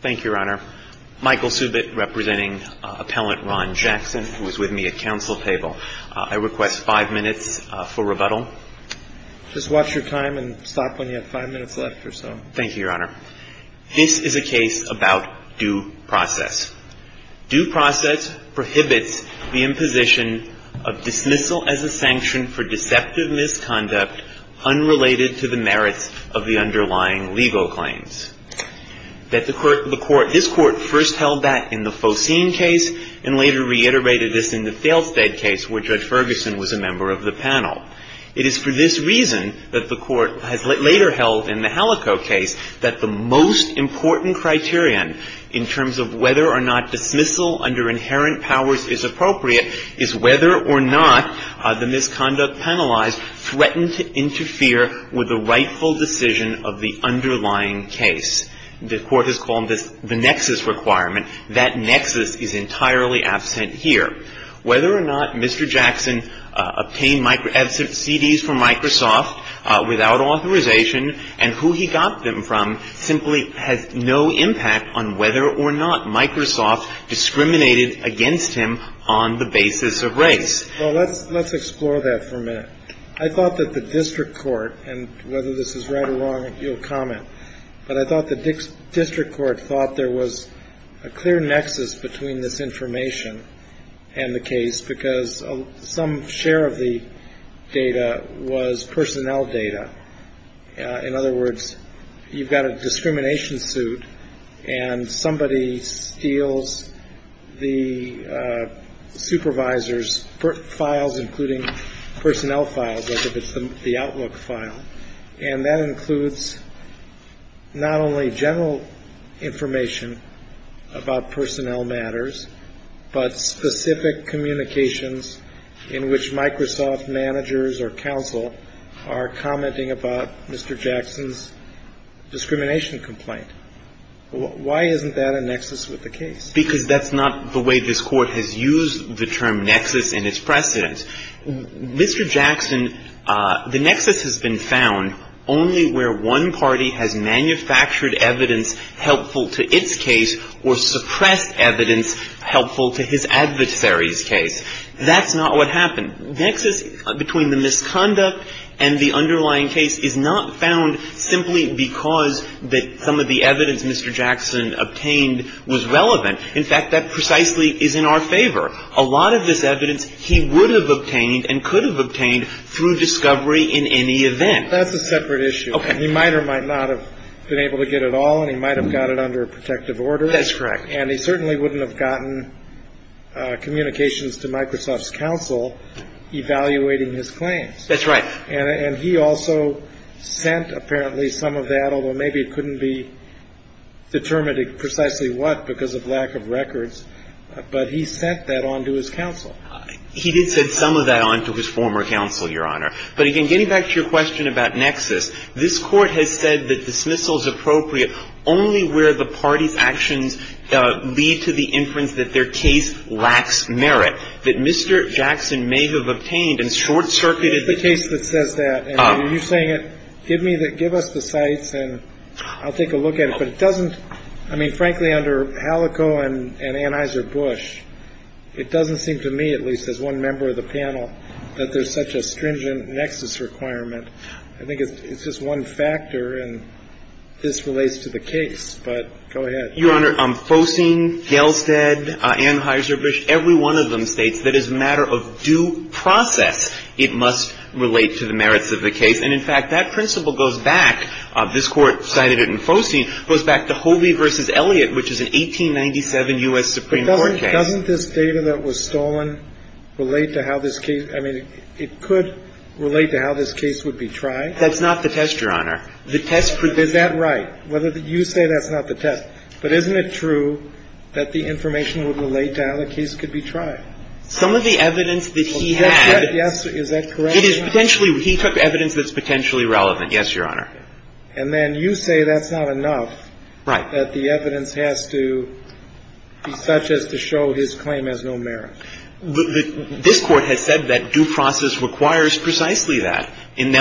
Thank you, Your Honor. Michael Subit representing Appellant Ron Jackson, who is with me at counsel table. I request five minutes for rebuttal. Just watch your time and stop when you have five minutes left or so. Thank you, Your Honor. This is a case about due process. Due process prohibits the imposition of dismissal as a sanction for deceptive misconduct unrelated to the merits of the underlying legal claims. This Court first held that in the Faucine case and later reiterated this in the Thalestead case where Judge Ferguson was a member of the panel. It is for this reason that the Court has later held in the Halico case that the most important criterion in terms of whether or not dismissal under inherent powers is appropriate is whether or not the misconduct penalized threatened to interfere with the rightful decision of the underlying case. The Court has called this the nexus requirement. That nexus is entirely absent here. Whether or not Mr. Jackson obtained CDs from Microsoft without authorization and who he got them from simply has no impact on whether or not Microsoft discriminated against him on the basis of race. Well, let's let's explore that for a minute. I thought that the district court and whether this is right or wrong, you'll comment. But I thought the district court thought there was a clear nexus between this information and the case because some share of the data was personnel data. In other words, you've got a discrimination suit and somebody steals the supervisor's files, including personnel files, whether it's the outlook file and that includes not only general information about personnel matters, but specific communications in which Microsoft managers or counsel are commenting about Mr. Jackson's discrimination complaint. Why isn't that a nexus with the case? Because that's not the way this Court has used the term nexus and its precedents. Mr. Jackson, the nexus has been found only where one party has manufactured evidence helpful to its case or suppressed evidence helpful to his adversary's case. That's not what happened. Nexus between the misconduct and the underlying case is not found simply because that some of the evidence Mr. Jackson obtained was relevant. In fact, that precisely is in our favor. A lot of this evidence he would have obtained and could have obtained through discovery in any event. That's a separate issue. He might or might not have been able to get it all and he might have got it under a protective order. That's correct. And he certainly wouldn't have gotten communications to Microsoft's counsel evaluating his claims. That's right. And he also sent apparently some of that, although maybe it couldn't be determined precisely what because of lack of records. But he sent that on to his counsel. He did send some of that on to his former counsel, Your Honor. But again, getting back to your question about nexus, this Court has said that dismissal is appropriate only where the party's actions lead to the inference that their case lacks merit, that Mr. Jackson may have obtained and short-circuited the case that says that. And you're saying it, give me the – give us the sites and I'll take a look at it. But it doesn't – I mean, frankly, under Halico and Anheuser-Busch, it doesn't seem to me, at least as one member of the panel, that there's such a stringent nexus requirement. I think it's just one factor and this relates to the case. But go ahead. Your Honor, Focine, Gailstead, Anheuser-Busch, every one of them states that as a matter of due process, it must relate to the merits of the case. And in fact, that principle goes back. This Court cited it in Focine, goes back to Hovey v. Elliott, which is an 1897 U.S. Supreme Court case. But doesn't this data that was stolen relate to how this case – I mean, it could relate to how this case would be tried? That's not the test, Your Honor. The test – Is that right? You say that's not the test. But isn't it true that the information would relate to how the case could be tried? Some of the evidence that he had – Yes, is that correct? It is potentially – he took evidence that's potentially relevant, yes, Your Honor. And then you say that's not enough. Right. That the evidence has to be such as to show his claim has no merit. This Court has said that due process requires precisely that in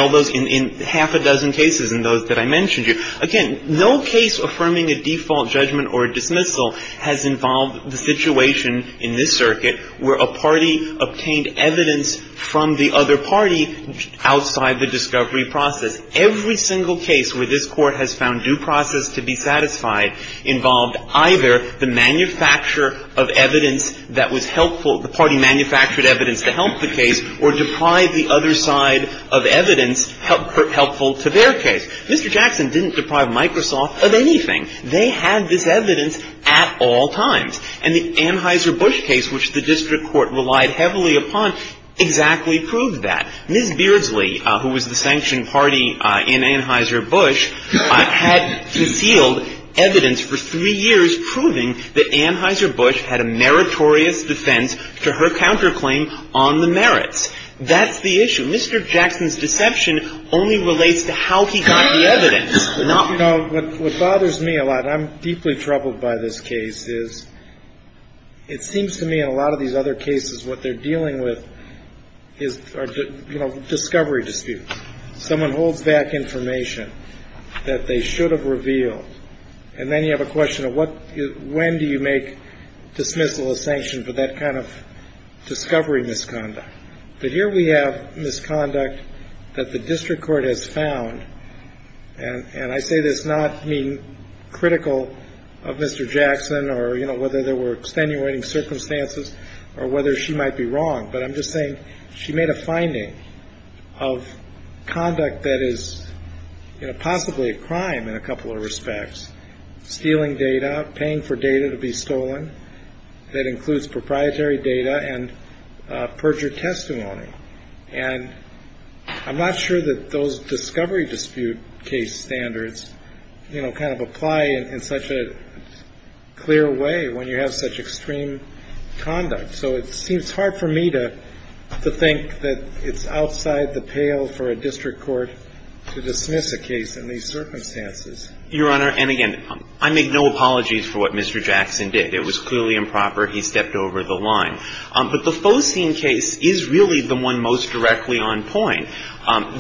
half a dozen cases and those that I mentioned to you. Again, no case affirming a default judgment or dismissal has involved the situation in this circuit where a party obtained evidence from the other party outside the discovery process. Every single case where this Court has found due process to be satisfied involved either the manufacturer of evidence that was helpful – the party manufactured evidence to help the case or deprived the other side of evidence helpful to their case. Mr. Jackson didn't deprive Microsoft of anything. They had this evidence at all times. And the Anheuser-Busch case, which the district court relied heavily upon, exactly proved that. Ms. Beardsley, who was the sanctioned party in Anheuser-Busch, had concealed evidence for three years proving that Anheuser-Busch had a meritorious defense to her counterclaim on the merits. That's the issue. Mr. Jackson's deception only relates to how he got the evidence, not – You know, what bothers me a lot – I'm deeply troubled by this case – is it seems to me that in a lot of these other cases, what they're dealing with is, you know, discovery disputes. Someone holds back information that they should have revealed, and then you have a question of when do you make dismissal a sanction for that kind of discovery misconduct? But here we have misconduct that the district court has found – and I say this not being critical of Mr. Jackson or, you know, whether there were extenuating circumstances or whether she might be wrong, but I'm just saying she made a finding of conduct that is possibly a crime in a couple of respects. Stealing data, paying for data to be stolen. That includes proprietary data and perjured testimony. And I'm not sure that those discovery dispute case standards, you know, kind of apply in such a clear way when you have such extreme conduct. So it seems hard for me to think that it's outside the pale for a district court to dismiss a case in these circumstances. Your Honor, and again, I make no apologies for what Mr. Jackson did. It was clearly improper. He stepped over the line. But the Fosene case is really the one most directly on point.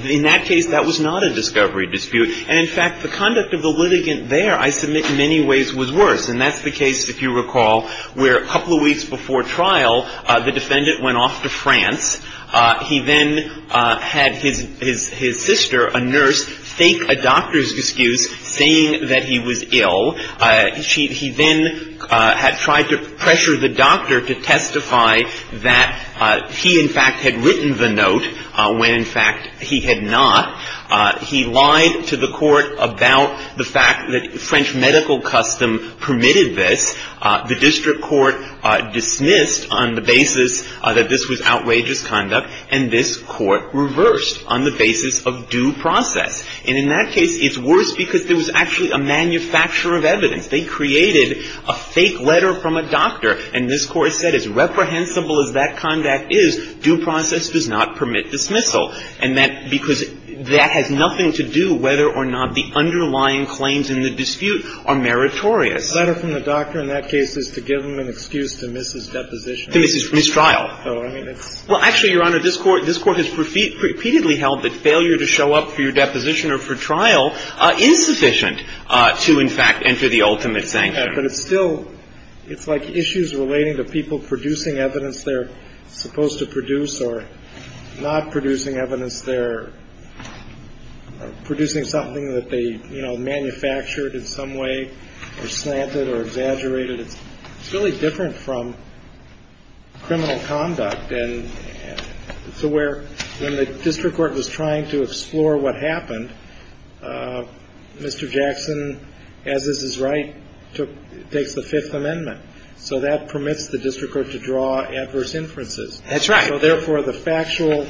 In that case, that was not a discovery dispute. And, in fact, the conduct of the litigant there, I submit, in many ways was worse. And that's the case, if you recall, where a couple of weeks before trial, the defendant went off to France. He then had his sister, a nurse, fake a doctor's excuse saying that he was ill. He then had tried to pressure the doctor to testify that he, in fact, had written the note when, in fact, he had not. He lied to the court about the fact that French medical custom permitted this. The district court dismissed on the basis that this was outrageous conduct. And this court reversed on the basis of due process. And in that case, it's worse because there was actually a manufacturer of evidence. They created a fake letter from a doctor. And this Court said, as reprehensible as that conduct is, due process does not permit dismissal. And that – because that has nothing to do whether or not the underlying claims in the dispute are meritorious. The letter from the doctor in that case is to give him an excuse to miss his deposition. To miss his trial. So, I mean, it's – Well, actually, Your Honor, this Court has repeatedly held that failure to show up for your deposition or for trial is sufficient to, in fact, enter the ultimate sanction. But it's still – it's like issues relating to people producing evidence they're supposed to produce or not producing evidence they're producing something that they, you know, manufactured in some way or slanted or exaggerated. It's really different from criminal conduct. And so where – when the district court was trying to explore what happened, Mr. Jackson, as is his right, took – takes the Fifth Amendment. So that permits the district court to draw adverse inferences. That's right. So, therefore, the factual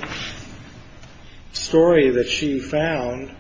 story that she found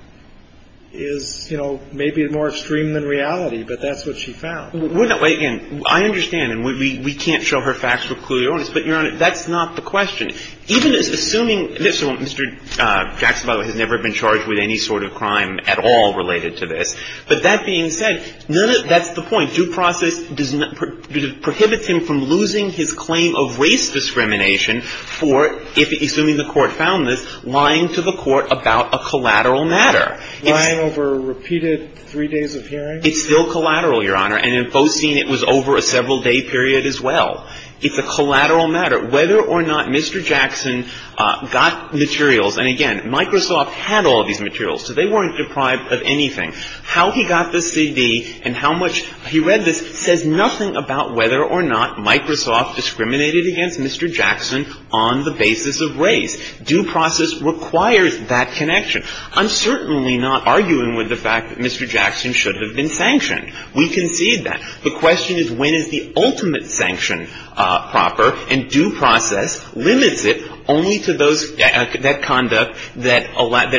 is, you know, maybe more extreme than reality. But that's what she found. Well, again, I understand. And we can't show her facts with clear evidence. But, Your Honor, that's not the question. Even assuming – Mr. Jackson, by the way, has never been charged with any sort of crime at all related to this. But that being said, that's the point. Due process does not – prohibits him from losing his claim of race discrimination for, assuming the Court found this, lying to the Court about a collateral matter. Lying over repeated three days of hearing? It's still collateral, Your Honor. And in Fostein, it was over a several-day period as well. It's a collateral matter. Whether or not Mr. Jackson got materials – and, again, Microsoft had all these materials, so they weren't deprived of anything. How he got this CD and how much he read this says nothing about whether or not Microsoft discriminated against Mr. Jackson on the basis of race. Due process requires that connection. I'm certainly not arguing with the fact that Mr. Jackson should have been sanctioned. We concede that. The question is, when is the ultimate sanction proper? And due process limits it only to those – that conduct that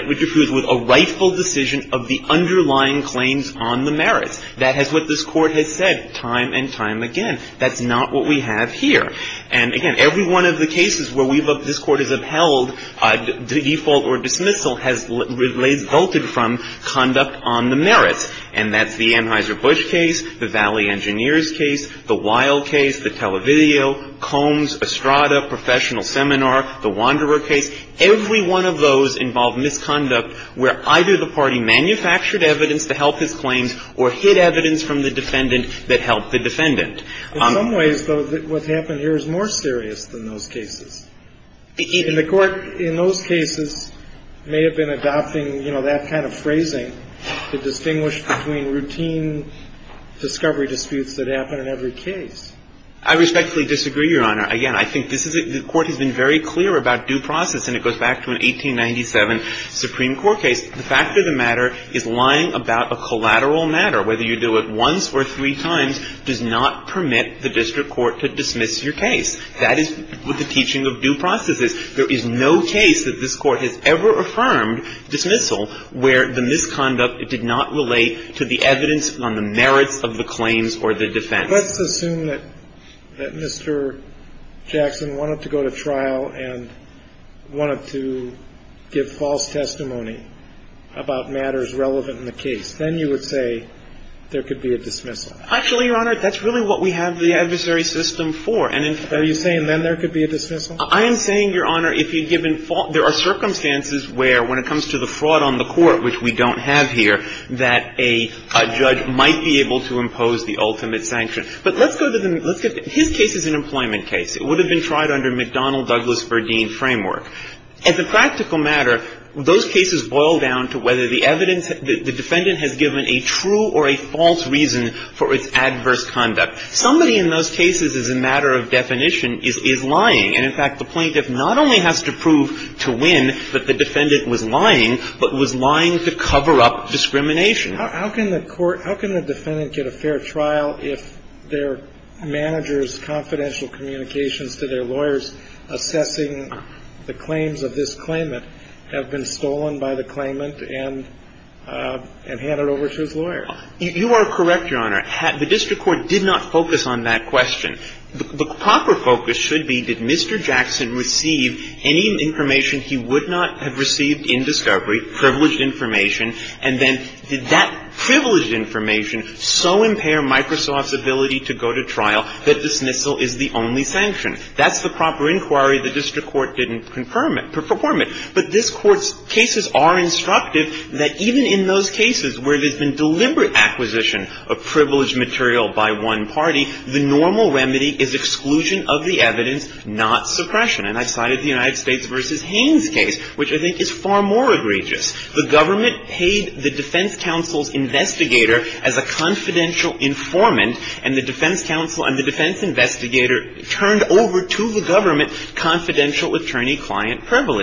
would confuse with a rightful decision of the underlying claims on the merits. That is what this Court has said time and time again. That's not what we have here. And, again, every one of the cases where this Court has upheld default or dismissal has revolted from conduct on the merits. And that's the Anheuser-Busch case, the Valley Engineers case, the Wilde case, the Televideo, Combs, Estrada, Professional Seminar, the Wanderer case. Every one of those involved misconduct where either the party manufactured evidence to help his claims or hid evidence from the defendant that helped the defendant. In some ways, though, what's happened here is more serious than those cases. And the Court in those cases may have been adopting, you know, that kind of phrasing to distinguish between routine discovery disputes that happen in every case. I respectfully disagree, Your Honor. Again, I think this is – the Court has been very clear about due process, and it goes back to an 1897 Supreme Court case. The fact of the matter is lying about a collateral matter, whether you do it once or three times, does not permit the district court to dismiss your case. That is with the teaching of due processes. There is no case that this Court has ever affirmed dismissal where the misconduct did not relate to the evidence on the merits of the claims or the defense. Let's assume that Mr. Jackson wanted to go to trial and wanted to give false testimony about matters relevant in the case. Then you would say there could be a dismissal. Actually, Your Honor, that's really what we have the adversary system for. Are you saying then there could be a dismissal? I am saying, Your Honor, if you've given – there are circumstances where, when it comes to the fraud on the Court, which we don't have here, that a judge might be able to impose the ultimate sanction. But let's go to the – his case is an employment case. It would have been tried under McDonnell-Douglas-Verdeen framework. As a practical matter, those cases boil down to whether the evidence – the defendant has given a true or a false reason for its adverse conduct. Somebody in those cases, as a matter of definition, is lying. And, in fact, the plaintiff not only has to prove to win that the defendant was lying, but was lying to cover up discrimination. How can the court – how can the defendant get a fair trial if their manager's confidential communications to their lawyers assessing the claims of this claimant have been stolen by the claimant and handed over to his lawyer? You are correct, Your Honor. The district court did not focus on that question. The proper focus should be, did Mr. Jackson receive any information he would not have received in discovery, privileged information, and then did that privileged information so impair Microsoft's ability to go to trial that dismissal is the only sanction? That's the proper inquiry the district court didn't confirm it – perform it. But this Court's cases are instructive that even in those cases where there's been deliberate acquisition of privileged material by one party, the normal remedy is exclusion of the evidence, not suppression. And I cited the United States v. Haynes case, which I think is far more egregious. The government paid the defense counsel's investigator as a confidential informant, and the defense counsel and the defense investigator turned over to the government for confidential attorney-client privilege.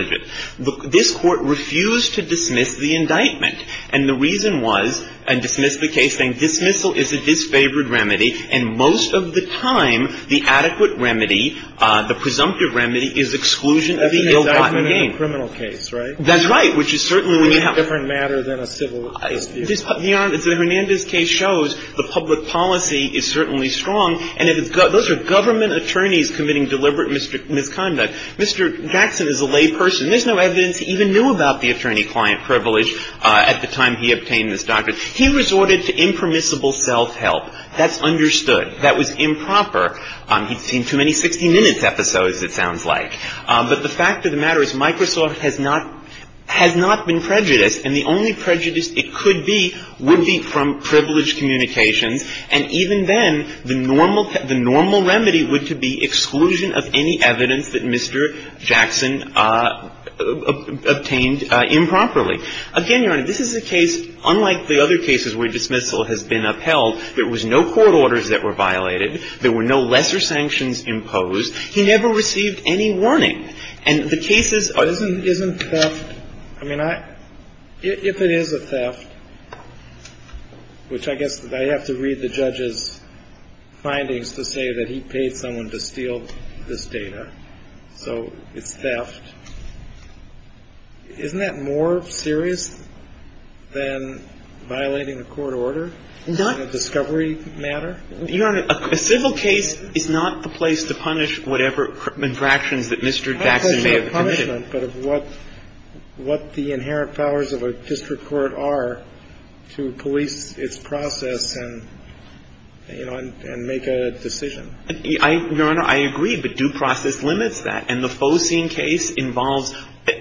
This Court refused to dismiss the indictment. And the reason was – and dismissed the case saying dismissal is a disfavored remedy, and most of the time the adequate remedy, the presumptive remedy, is exclusion of the ill-gotten gain. That's an indictment in a criminal case, right? That's right, which is certainly when you have – It's a different matter than a civil case. The Hernandez case shows the public policy is certainly strong. And those are government attorneys committing deliberate misconduct. Mr. Jackson is a lay person. There's no evidence he even knew about the attorney-client privilege at the time he obtained this doctorate. He resorted to impermissible self-help. That's understood. That was improper. He'd seen too many 60 Minutes episodes, it sounds like. But the fact of the matter is Microsoft has not – has not been prejudiced, and the only prejudice it could be would be from privileged communications. And even then, the normal remedy would be exclusion of any evidence that Mr. Jackson obtained improperly. Again, Your Honor, this is a case unlike the other cases where dismissal has been upheld. There was no court orders that were violated. There were no lesser sanctions imposed. He never received any warning. And the cases – Isn't theft – I mean, if it is a theft, which I guess I have to read the judge's findings to say that he paid someone to steal this data, so it's theft, isn't that more serious than violating a court order in a discovery matter? Your Honor, a civil case is not the place to punish whatever infractions that Mr. Jackson may have committed. It's not a place for punishment, but of what – what the inherent powers of a district court are to police its process and, you know, and make a decision. Your Honor, I agree, but due process limits that. And the Focine case involves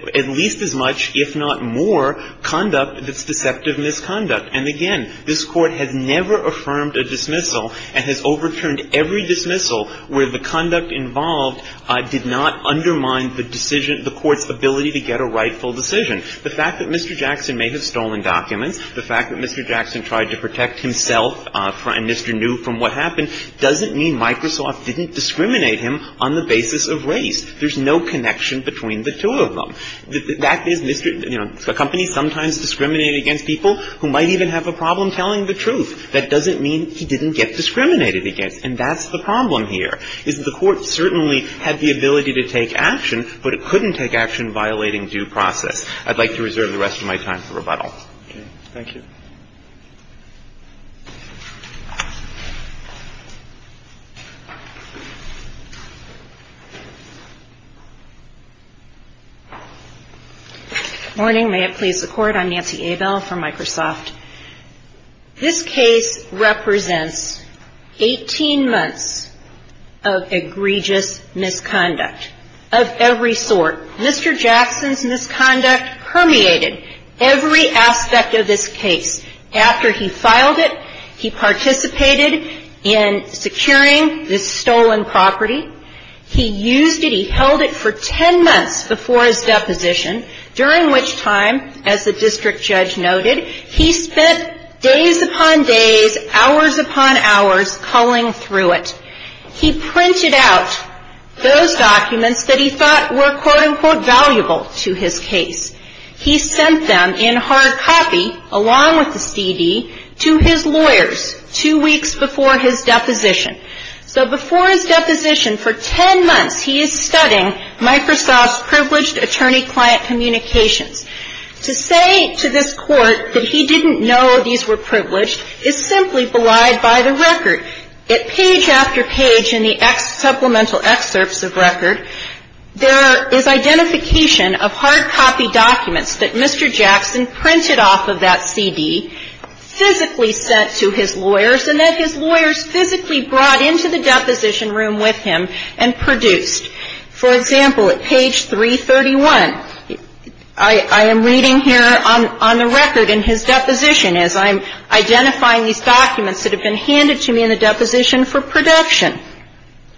at least as much, if not more, conduct that's deceptive misconduct. And again, this Court has never affirmed a dismissal and has overturned every dismissal where the conduct involved did not undermine the decision – the Court's ability to get a rightful decision. The fact that Mr. Jackson may have stolen documents, the fact that Mr. Jackson tried to protect himself and Mr. New from what happened doesn't mean Microsoft didn't discriminate him on the basis of race. There's no connection between the two of them. The fact is, you know, a company sometimes discriminates against people who might even have a problem telling the truth. That doesn't mean he didn't get discriminated against. And that's the problem here, is the Court certainly had the ability to take action, but it couldn't take action violating due process. I'd like to reserve the rest of my time for rebuttal. Thank you. Good morning. May it please the Court. I'm Nancy Abel from Microsoft. This case represents 18 months of egregious misconduct of every sort. Mr. Jackson's misconduct permeated every aspect of this case. After he filed it, he participated in securing this stolen property. He used it. He held it for 10 months before his deposition, during which time, as the district judge noted, he spent days upon days, hours upon hours, culling through it. He printed out those documents that he thought were, quote, unquote, valuable to his case. He sent them in hard copy, along with the CD, to his lawyers two weeks before his deposition. So before his deposition, for 10 months, he is studying Microsoft's privileged attorney-client communications. To say to this Court that he didn't know these were privileged is simply belied by the record. Page after page in the supplemental excerpts of record, there is identification of hard copy documents that Mr. Jackson printed off of that CD, physically sent to his lawyers, and that his lawyers physically brought into the deposition room with him and produced. For example, at page 331, I am reading here on the record in his deposition, as I'm identifying these documents that have been handed to me in the deposition for production.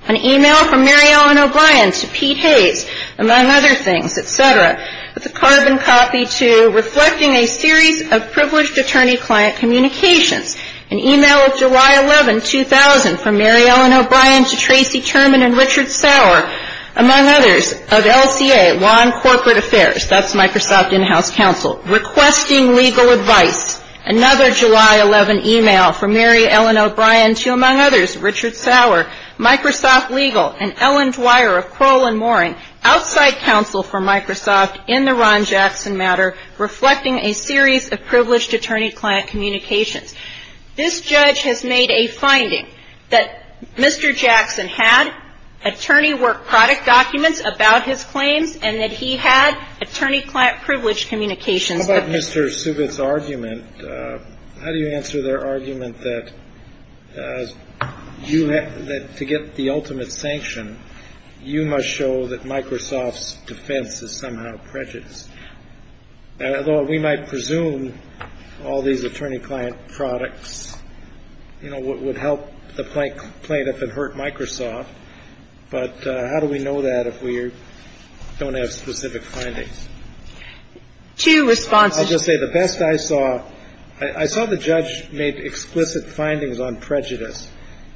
An email from Mary Ellen O'Brien to Pete Hayes, among other things, et cetera, with a carbon copy to reflecting a series of privileged attorney-client communications. An email of July 11, 2000, from Mary Ellen O'Brien to Tracy Turman and Richard Sauer, among others, of LCA, Law and Corporate Affairs, that's Microsoft in-house counsel, requesting legal advice. Another July 11 email from Mary Ellen O'Brien to, among others, Richard Sauer, Microsoft Legal, and Ellen Dwyer of Kroll and Moring, outside counsel for Microsoft in the Ron Jackson matter, reflecting a series of privileged attorney-client communications. This judge has made a finding that Mr. Jackson had attorney work product documents about his claims and that he had attorney-client privileged communications. How about Mr. Subit's argument? How do you answer their argument that to get the ultimate sanction, you must show that Microsoft's defense is somehow prejudiced? Although we might presume all these attorney-client products would help the plaintiff and hurt Microsoft, but how do we know that if we don't have specific findings? I'll just say the best I saw, I saw the judge make explicit findings on prejudice,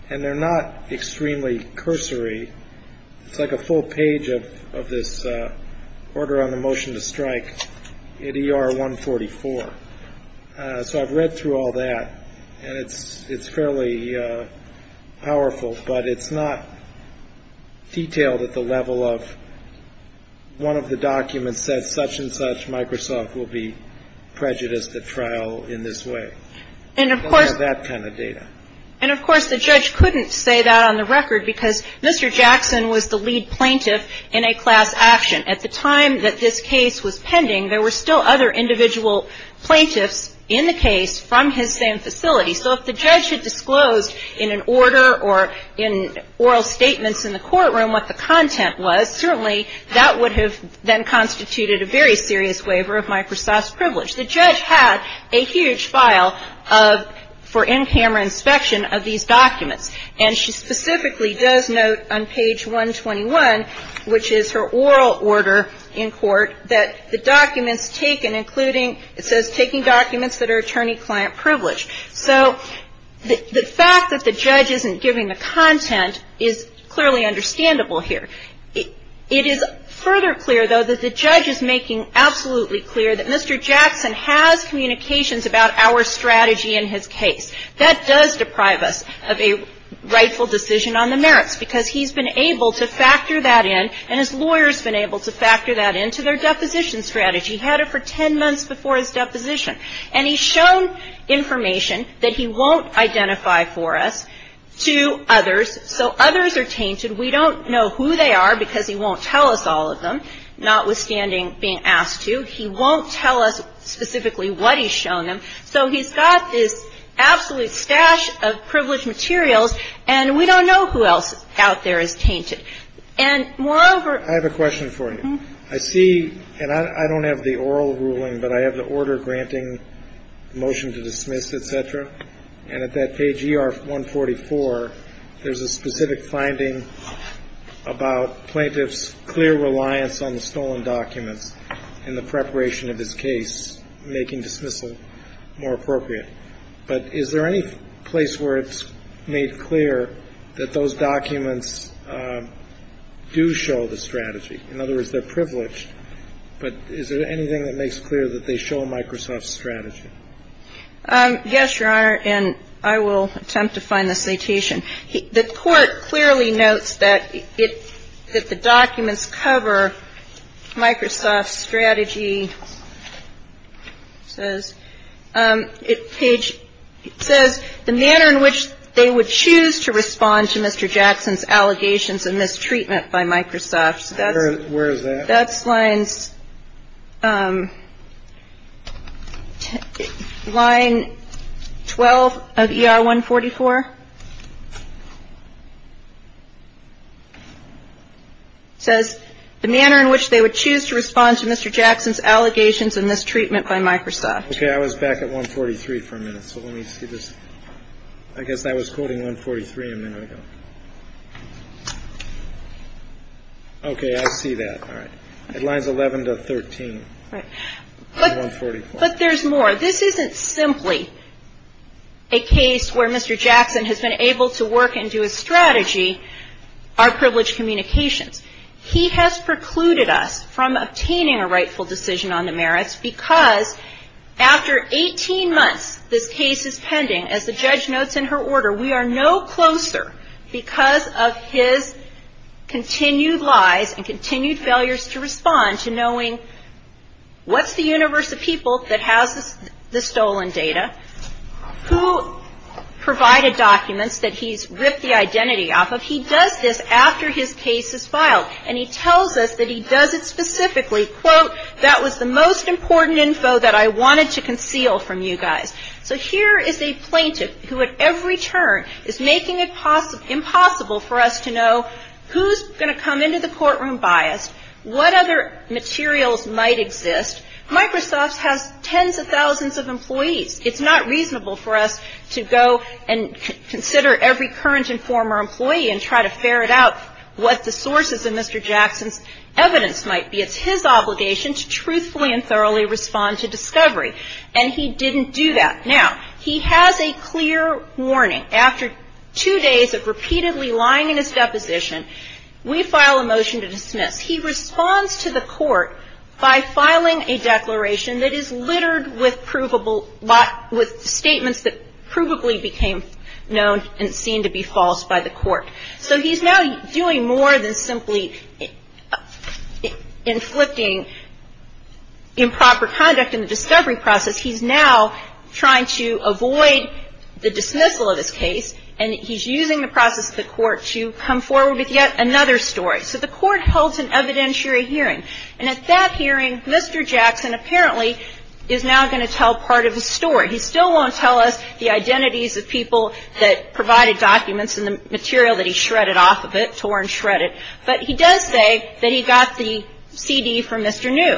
and they're not extremely cursory. It's like a full page of this order on the motion to strike in ER 144. So I've read through all that, and it's fairly powerful, but it's not detailed at the level of one of the documents says such and such, Microsoft will be prejudiced at trial in this way. Those are that kind of data. And, of course, the judge couldn't say that on the record because Mr. Jackson was the lead plaintiff in a class action. At the time that this case was pending, there were still other individual plaintiffs in the case from his same facility. So if the judge had disclosed in an order or in oral statements in the courtroom what the content was, certainly that would have then constituted a very serious waiver of Microsoft's privilege. The judge had a huge file for in-camera inspection of these documents, and she specifically does note on page 121, which is her oral order in court, that the documents taken, including it says taking documents that are attorney-client privilege. So the fact that the judge isn't giving the content is clearly understandable here. It is further clear, though, that the judge is making absolutely clear that Mr. Jackson has communications about our strategy in his case. That does deprive us of a rightful decision on the merits because he's been able to factor that in, and his lawyer's been able to factor that into their deposition strategy. He had it for 10 months before his deposition. And he's shown information that he won't identify for us to others. So others are tainted. We don't know who they are because he won't tell us all of them, notwithstanding being asked to. He won't tell us specifically what he's shown them. So he's got this absolute stash of privileged materials, and we don't know who else out there is tainted. And moreover ---- I have a question for you. I see, and I don't have the oral ruling, but I have the order granting motion to dismiss, et cetera. And at that page ER-144, there's a specific finding about plaintiff's clear reliance on the stolen documents and the preparation of his case making dismissal more appropriate. But is there any place where it's made clear that those documents do show the strategy? In other words, they're privileged. But is there anything that makes clear that they show a Microsoft strategy? Yes, Your Honor, and I will attempt to find the citation. The Court clearly notes that it ---- that the documents cover Microsoft's strategy. It says the manner in which they would choose to respond to Mr. Jackson's allegations of mistreatment by Microsoft. Where is that? That's line 12 of ER-144. It says the manner in which they would choose to respond to Mr. Jackson's allegations of mistreatment by Microsoft. Okay, I was back at 143 for a minute, so let me see this. I guess I was quoting 143 a minute ago. Okay, I see that. All right. It lines 11 to 13 of 144. But there's more. This isn't simply a case where Mr. Jackson has been able to work and do a strategy, our privileged communications. He has precluded us from obtaining a rightful decision on the merits because after 18 months, this case is pending. As the judge notes in her order, we are no closer because of his continued lies and continued failures to respond to knowing what's the universe of people that has the stolen data, who provided documents that he's ripped the identity off of. He does this after his case is filed, and he tells us that he does it specifically, quote, that was the most important info that I wanted to conceal from you guys. So here is a plaintiff who at every turn is making it impossible for us to know who's going to come into the courtroom biased, what other materials might exist. Microsoft has tens of thousands of employees. It's not reasonable for us to go and consider every current and former employee and try to ferret out what the sources of Mr. Jackson's evidence might be. It's his obligation to truthfully and thoroughly respond to discovery, and he didn't do that. Now, he has a clear warning. After two days of repeatedly lying in his deposition, we file a motion to dismiss. He responds to the court by filing a declaration that is littered with statements that provably became known and seemed to be false by the court. So he's now doing more than simply inflicting improper conduct in the discovery process. He's now trying to avoid the dismissal of his case, and he's using the process of the court to come forward with yet another story. So the court holds an evidentiary hearing, and at that hearing, Mr. Jackson apparently is now going to tell part of his story. He still won't tell us the identities of people that provided documents and the material that he shredded off of it, tore and shredded, but he does say that he got the CD from Mr. New.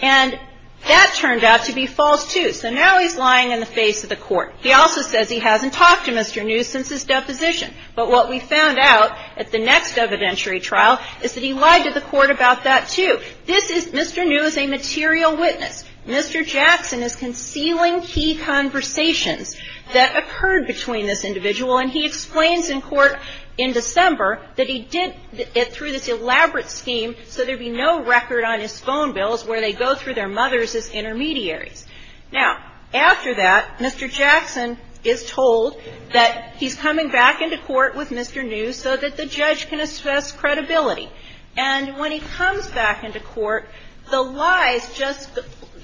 And that turned out to be false, too. So now he's lying in the face of the court. He also says he hasn't talked to Mr. New since his deposition. But what we found out at the next evidentiary trial is that he lied to the court about that, too. This is Mr. New as a material witness. Mr. Jackson is concealing key conversations that occurred between this individual, and he explains in court in December that he did it through this elaborate scheme so there would be no record on his phone bills where they go through their mothers as intermediaries. Now, after that, Mr. Jackson is told that he's coming back into court with Mr. New so that the judge can assess credibility. And when he comes back into court, the lies just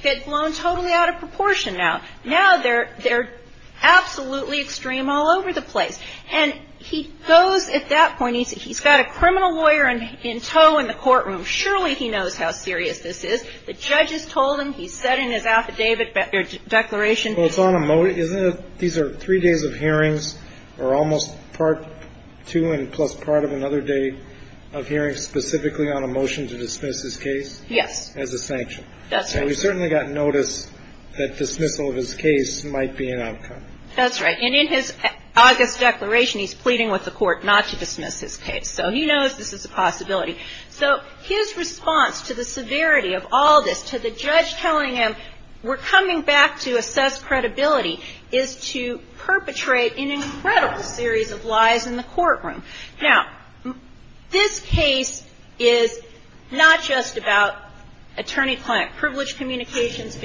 get blown totally out of proportion now. Now they're absolutely extreme all over the place. And he goes at that point, he's got a criminal lawyer in tow in the courtroom. Surely he knows how serious this is. The judge has told him. He's said in his affidavit or declaration. Well, it's on a motion. These are three days of hearings or almost part two and plus part of another day of hearings specifically on a motion to dismiss his case. Yes. As a sanction. That's right. And we certainly got notice that dismissal of his case might be an outcome. That's right. And in his August declaration, he's pleading with the court not to dismiss his case. So he knows this is a possibility. So his response to the severity of all this, to the judge telling him we're coming back to assess credibility, is to perpetrate an incredible series of lies in the courtroom. Now, this case is not just about attorney-client privilege communications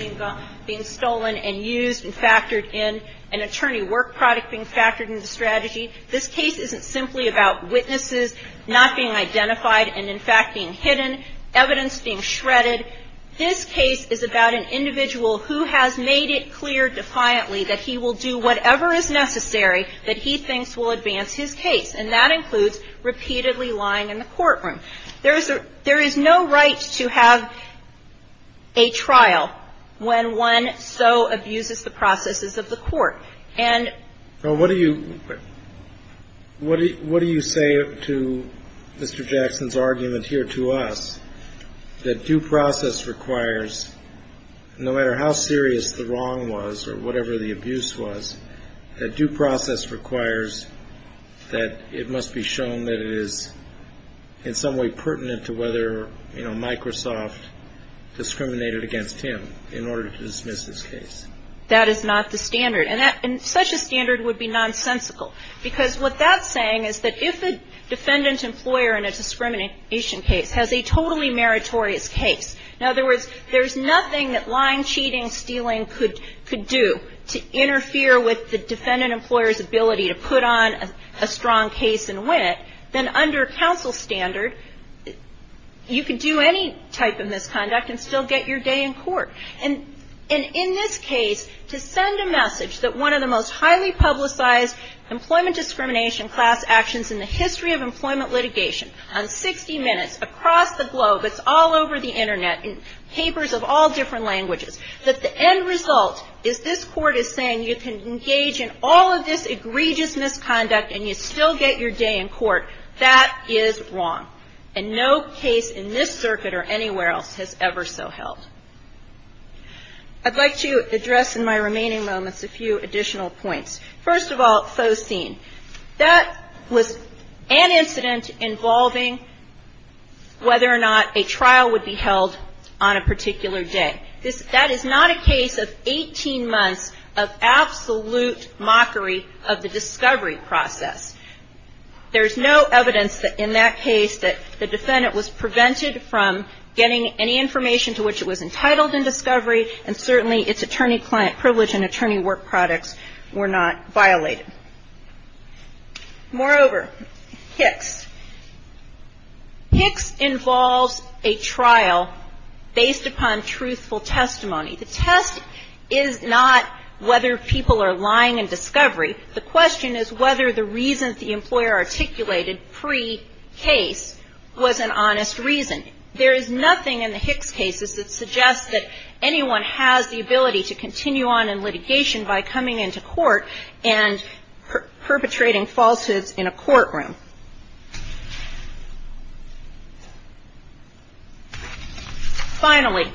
being stolen and used and factored in, an attorney work product being factored into strategy. This case isn't simply about witnesses not being identified and, in fact, being hidden, evidence being shredded. This case is about an individual who has made it clear defiantly that he will do whatever is necessary that he thinks will advance his case, and that includes repeatedly lying in the courtroom. There is no right to have a trial when one so abuses the processes of the court. And so what do you say to Mr. Jackson's argument here to us that due process requires, no matter how serious the wrong was or whatever the abuse was, that due process requires that it must be shown that it is in some way pertinent to whether, you know, Microsoft discriminated against him in order to dismiss his case? That is not the standard. And such a standard would be nonsensical because what that's saying is that if a defendant employer in a discrimination case has a totally meritorious case, in other words, there's nothing that lying, cheating, stealing could do to interfere with the defendant employer's ability to put on a strong case and win it, then under counsel standard, you could do any type of misconduct and still get your day in court. And in this case, to send a message that one of the most highly publicized employment discrimination class actions in the history of employment litigation on 60 Minutes across the globe, it's all over the Internet, in papers of all different languages, that the end result is this court is saying you can engage in all of this egregious misconduct and you still get your day in court. That is wrong. And no case in this circuit or anywhere else has ever so held. I'd like to address in my remaining moments a few additional points. First of all, faux scene. That was an incident involving whether or not a trial would be held on a particular day. That is not a case of 18 months of absolute mockery of the discovery process. There's no evidence in that case that the defendant was prevented from getting any information to which it was entitled in discovery, and certainly its attorney-client privilege and attorney work products were not violated. Moreover, HICS. HICS involves a trial based upon truthful testimony. The test is not whether people are lying in discovery. The question is whether the reasons the employer articulated pre-case was an honest reason. There is nothing in the HICS cases that suggests that anyone has the ability to continue on in litigation by coming into court and perpetrating falsehoods in a courtroom. Finally,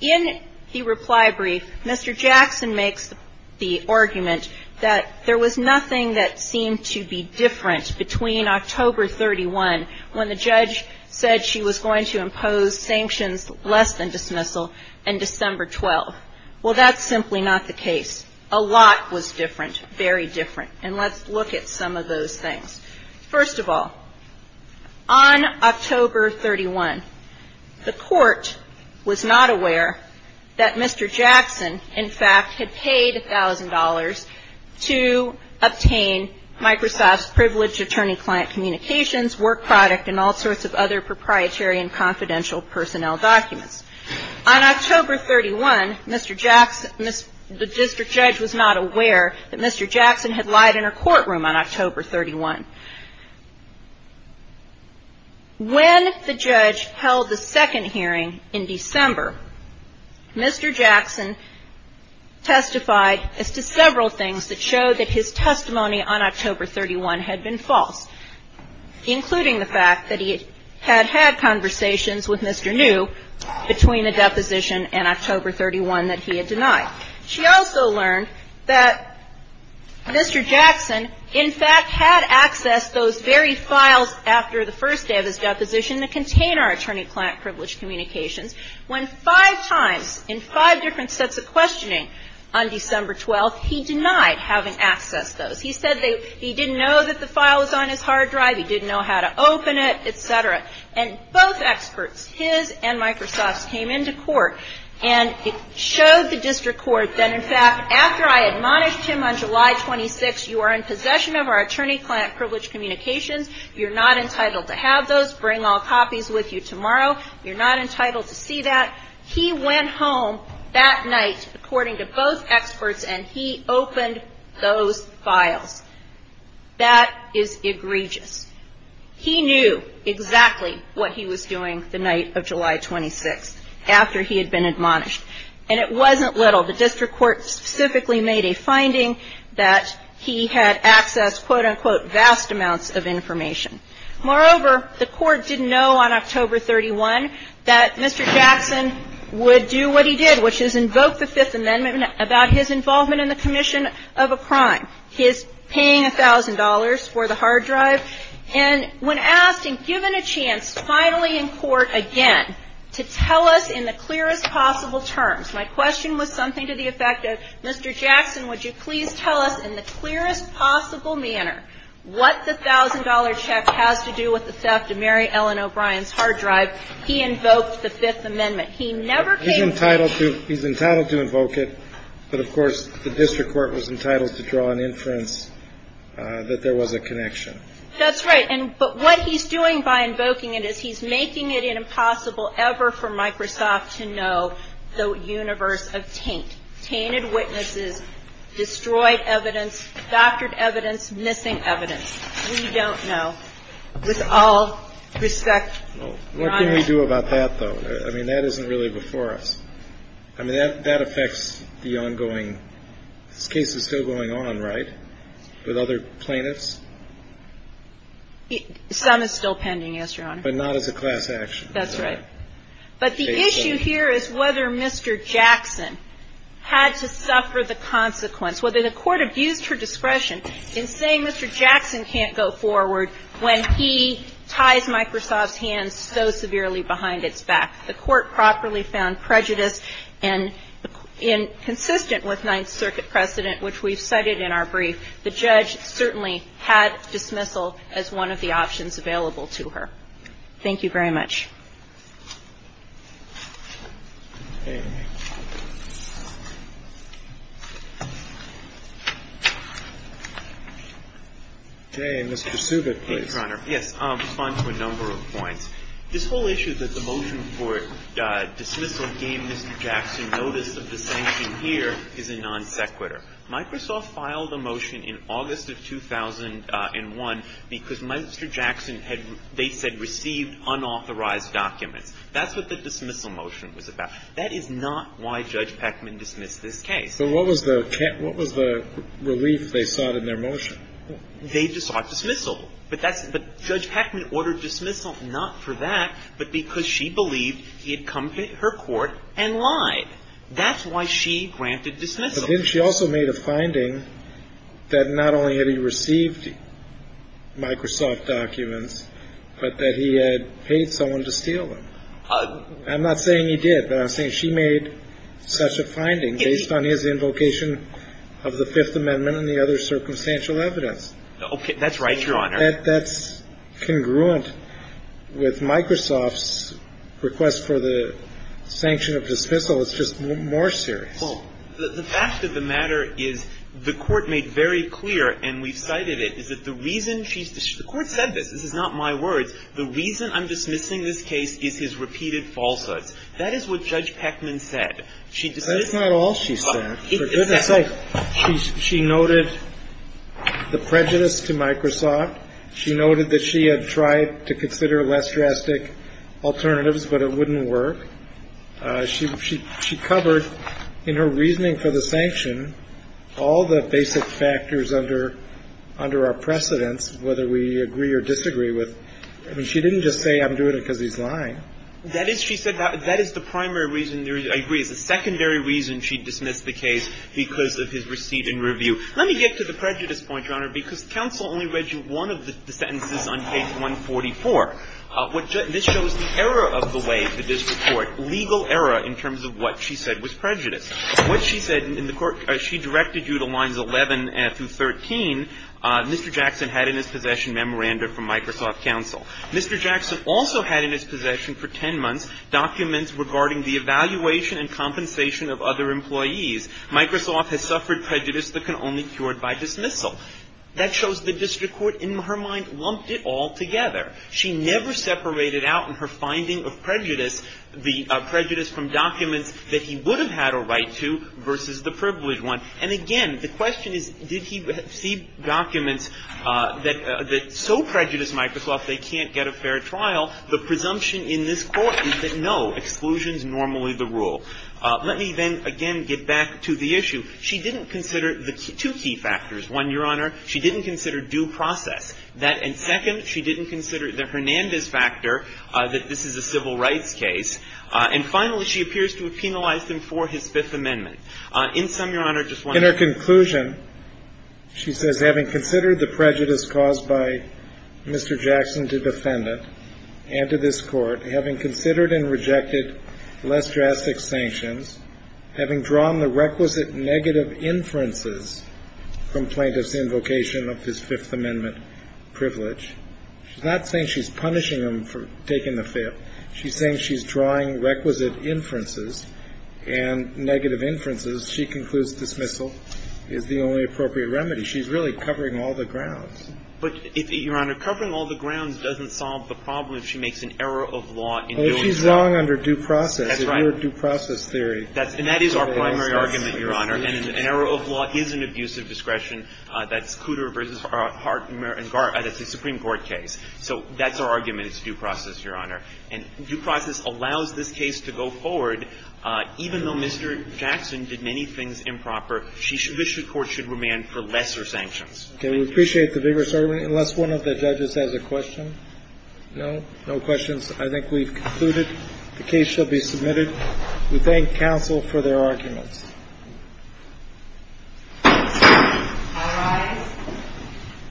in the reply brief, Mr. Jackson makes the argument that there was nothing that seemed to be different between October 31, when the judge said she was going to impose sanctions less than dismissal, and December 12. Well, that's simply not the case. A lot was different, very different. And let's look at some of those things. First of all, on October 31, the court was not aware that Mr. Jackson, in fact, had paid $1,000 to obtain Microsoft's privileged attorney-client communications, work product, and all sorts of other proprietary and confidential personnel documents. On October 31, Mr. Jackson, the district judge was not aware that Mr. Jackson had lied in her courtroom on October 31. When the judge held the second hearing in December, Mr. Jackson testified as to several things that showed that his testimony on October 31 had been false, including the fact that he had had conversations with Mr. New between the deposition and October 31 that he had denied. She also learned that Mr. Jackson, in fact, had accessed those very files after the first day of his deposition that contained our attorney-client privileged communications, when five times in five different sets of questioning on December 12, he denied having accessed those. He said he didn't know that the file was on his hard drive. He didn't know how to open it, et cetera. And both experts, his and Microsoft's, came into court and showed the district court that, in fact, after I admonished him on July 26, you are in possession of our attorney-client privileged communications. You're not entitled to have those. Bring all copies with you tomorrow. You're not entitled to see that. He went home that night, according to both experts, and he opened those files. That is egregious. He knew exactly what he was doing the night of July 26, after he had been admonished. And it wasn't little. The district court specifically made a finding that he had accessed, quote-unquote, vast amounts of information. Moreover, the Court didn't know on October 31 that Mr. Jackson would do what he did, which is invoke the Fifth Amendment about his involvement in the commission of a crime, his paying $1,000 for the hard drive. And when asked and given a chance, finally in court again, to tell us in the clearest possible terms, my question was something to the effect of, Mr. Jackson, would you please tell us in the clearest possible manner what the $1,000 check has to do with the theft of Mary Ellen O'Brien's hard drive? He invoked the Fifth Amendment. He never came to it. He's entitled to invoke it, but, of course, the district court was entitled to draw an inference that there was a connection. That's right. But what he's doing by invoking it is he's making it impossible ever for Microsoft to know the universe of taint. Tainted witnesses, destroyed evidence, doctored evidence, missing evidence. We don't know. With all respect, Your Honor. What can we do about that, though? I mean, that isn't really before us. I mean, that affects the ongoing. This case is still going on, right, with other plaintiffs? Some is still pending, yes, Your Honor. But not as a class action. That's right. But the issue here is whether Mr. Jackson had to suffer the consequence, whether the court abused her discretion in saying Mr. Jackson can't go forward when he ties Microsoft's hands so severely behind its back. The court properly found prejudice, and consistent with Ninth Circuit precedent, which we've cited in our brief, the judge certainly had dismissal as one of the options available to her. Thank you very much. Mr. Subic, please. Thank you, Your Honor. Yes, I'll respond to a number of points. This whole issue that the motion for dismissal gave Mr. Jackson notice of the sanction here is a non sequitur. Microsoft filed a motion in August of 2001 because Mr. Jackson had, they said, received unauthorized documents. That's what the dismissal motion was about. That is not why Judge Peckman dismissed this case. So what was the relief they sought in their motion? They sought dismissal. But Judge Peckman ordered dismissal not for that, but because she believed he had come to her court and lied. That's why she granted dismissal. But then she also made a finding that not only had he received Microsoft documents, but that he had paid someone to steal them. I'm not saying he did, but I'm saying she made such a finding based on his invocation of the Fifth Amendment and the other circumstantial evidence. That's right, Your Honor. That's congruent with Microsoft's request for the sanction of dismissal. It's just more serious. Well, the fact of the matter is the Court made very clear, and we've cited it, is that the reason she's – the Court said this. This is not my words. The reason I'm dismissing this case is his repeated falsehoods. That is what Judge Peckman said. That's not all she said. For goodness sake. She noted the prejudice to Microsoft. She noted that she had tried to consider less drastic alternatives, but it wouldn't work. She covered in her reasoning for the sanction all the basic factors under our precedents, whether we agree or disagree with. I mean, she didn't just say, I'm doing it because he's lying. That is, she said, that is the primary reason. I agree. It's the secondary reason she dismissed the case because of his receipt and review. Let me get to the prejudice point, Your Honor, because counsel only read you one of the sentences on page 144. This shows the error of the way the district court – legal error in terms of what she said was prejudice. What she said in the – she directed you to lines 11 through 13. Mr. Jackson had in his possession memoranda from Microsoft counsel. Mr. Jackson also had in his possession for 10 months documents regarding the evaluation and compensation of other employees. Microsoft has suffered prejudice that can only be cured by dismissal. That shows the district court, in her mind, lumped it all together. She never separated out in her finding of prejudice the prejudice from documents that he would have had a right to versus the privileged one. And again, the question is, did he see documents that so prejudiced Microsoft they can't get a fair trial? The presumption in this court is that no, exclusion is normally the rule. Let me then, again, get back to the issue. She didn't consider the two key factors. One, Your Honor, she didn't consider due process. That – and second, she didn't consider the Hernandez factor, that this is a civil rights case. And finally, she appears to have penalized him for his Fifth Amendment. In sum, Your Honor, just one thing. In her conclusion, she says, Having considered the prejudice caused by Mr. Jackson to defendant and to this court, having considered and rejected less drastic sanctions, having drawn the requisite negative inferences from plaintiff's invocation of his Fifth Amendment privilege. She's not saying she's punishing him for taking the fail. She's saying she's drawing requisite inferences and negative inferences. She concludes dismissal is the only appropriate remedy. She's really covering all the grounds. But, Your Honor, covering all the grounds doesn't solve the problem if she makes an error of law in doing so. Well, if she's wrong under due process. That's right. Under due process theory. And that is our primary argument, Your Honor. And an error of law is an abuse of discretion. That's Cooter v. Hart and Garrett. That's a Supreme Court case. So that's our argument. It's due process, Your Honor. And due process allows this case to go forward, even though Mr. Jackson did many things improper. This Court should remand for lesser sanctions. Okay. We appreciate the vigorous argument. Unless one of the judges has a question. No? No questions. I think we've concluded. The case shall be submitted. We thank counsel for their arguments. I rise.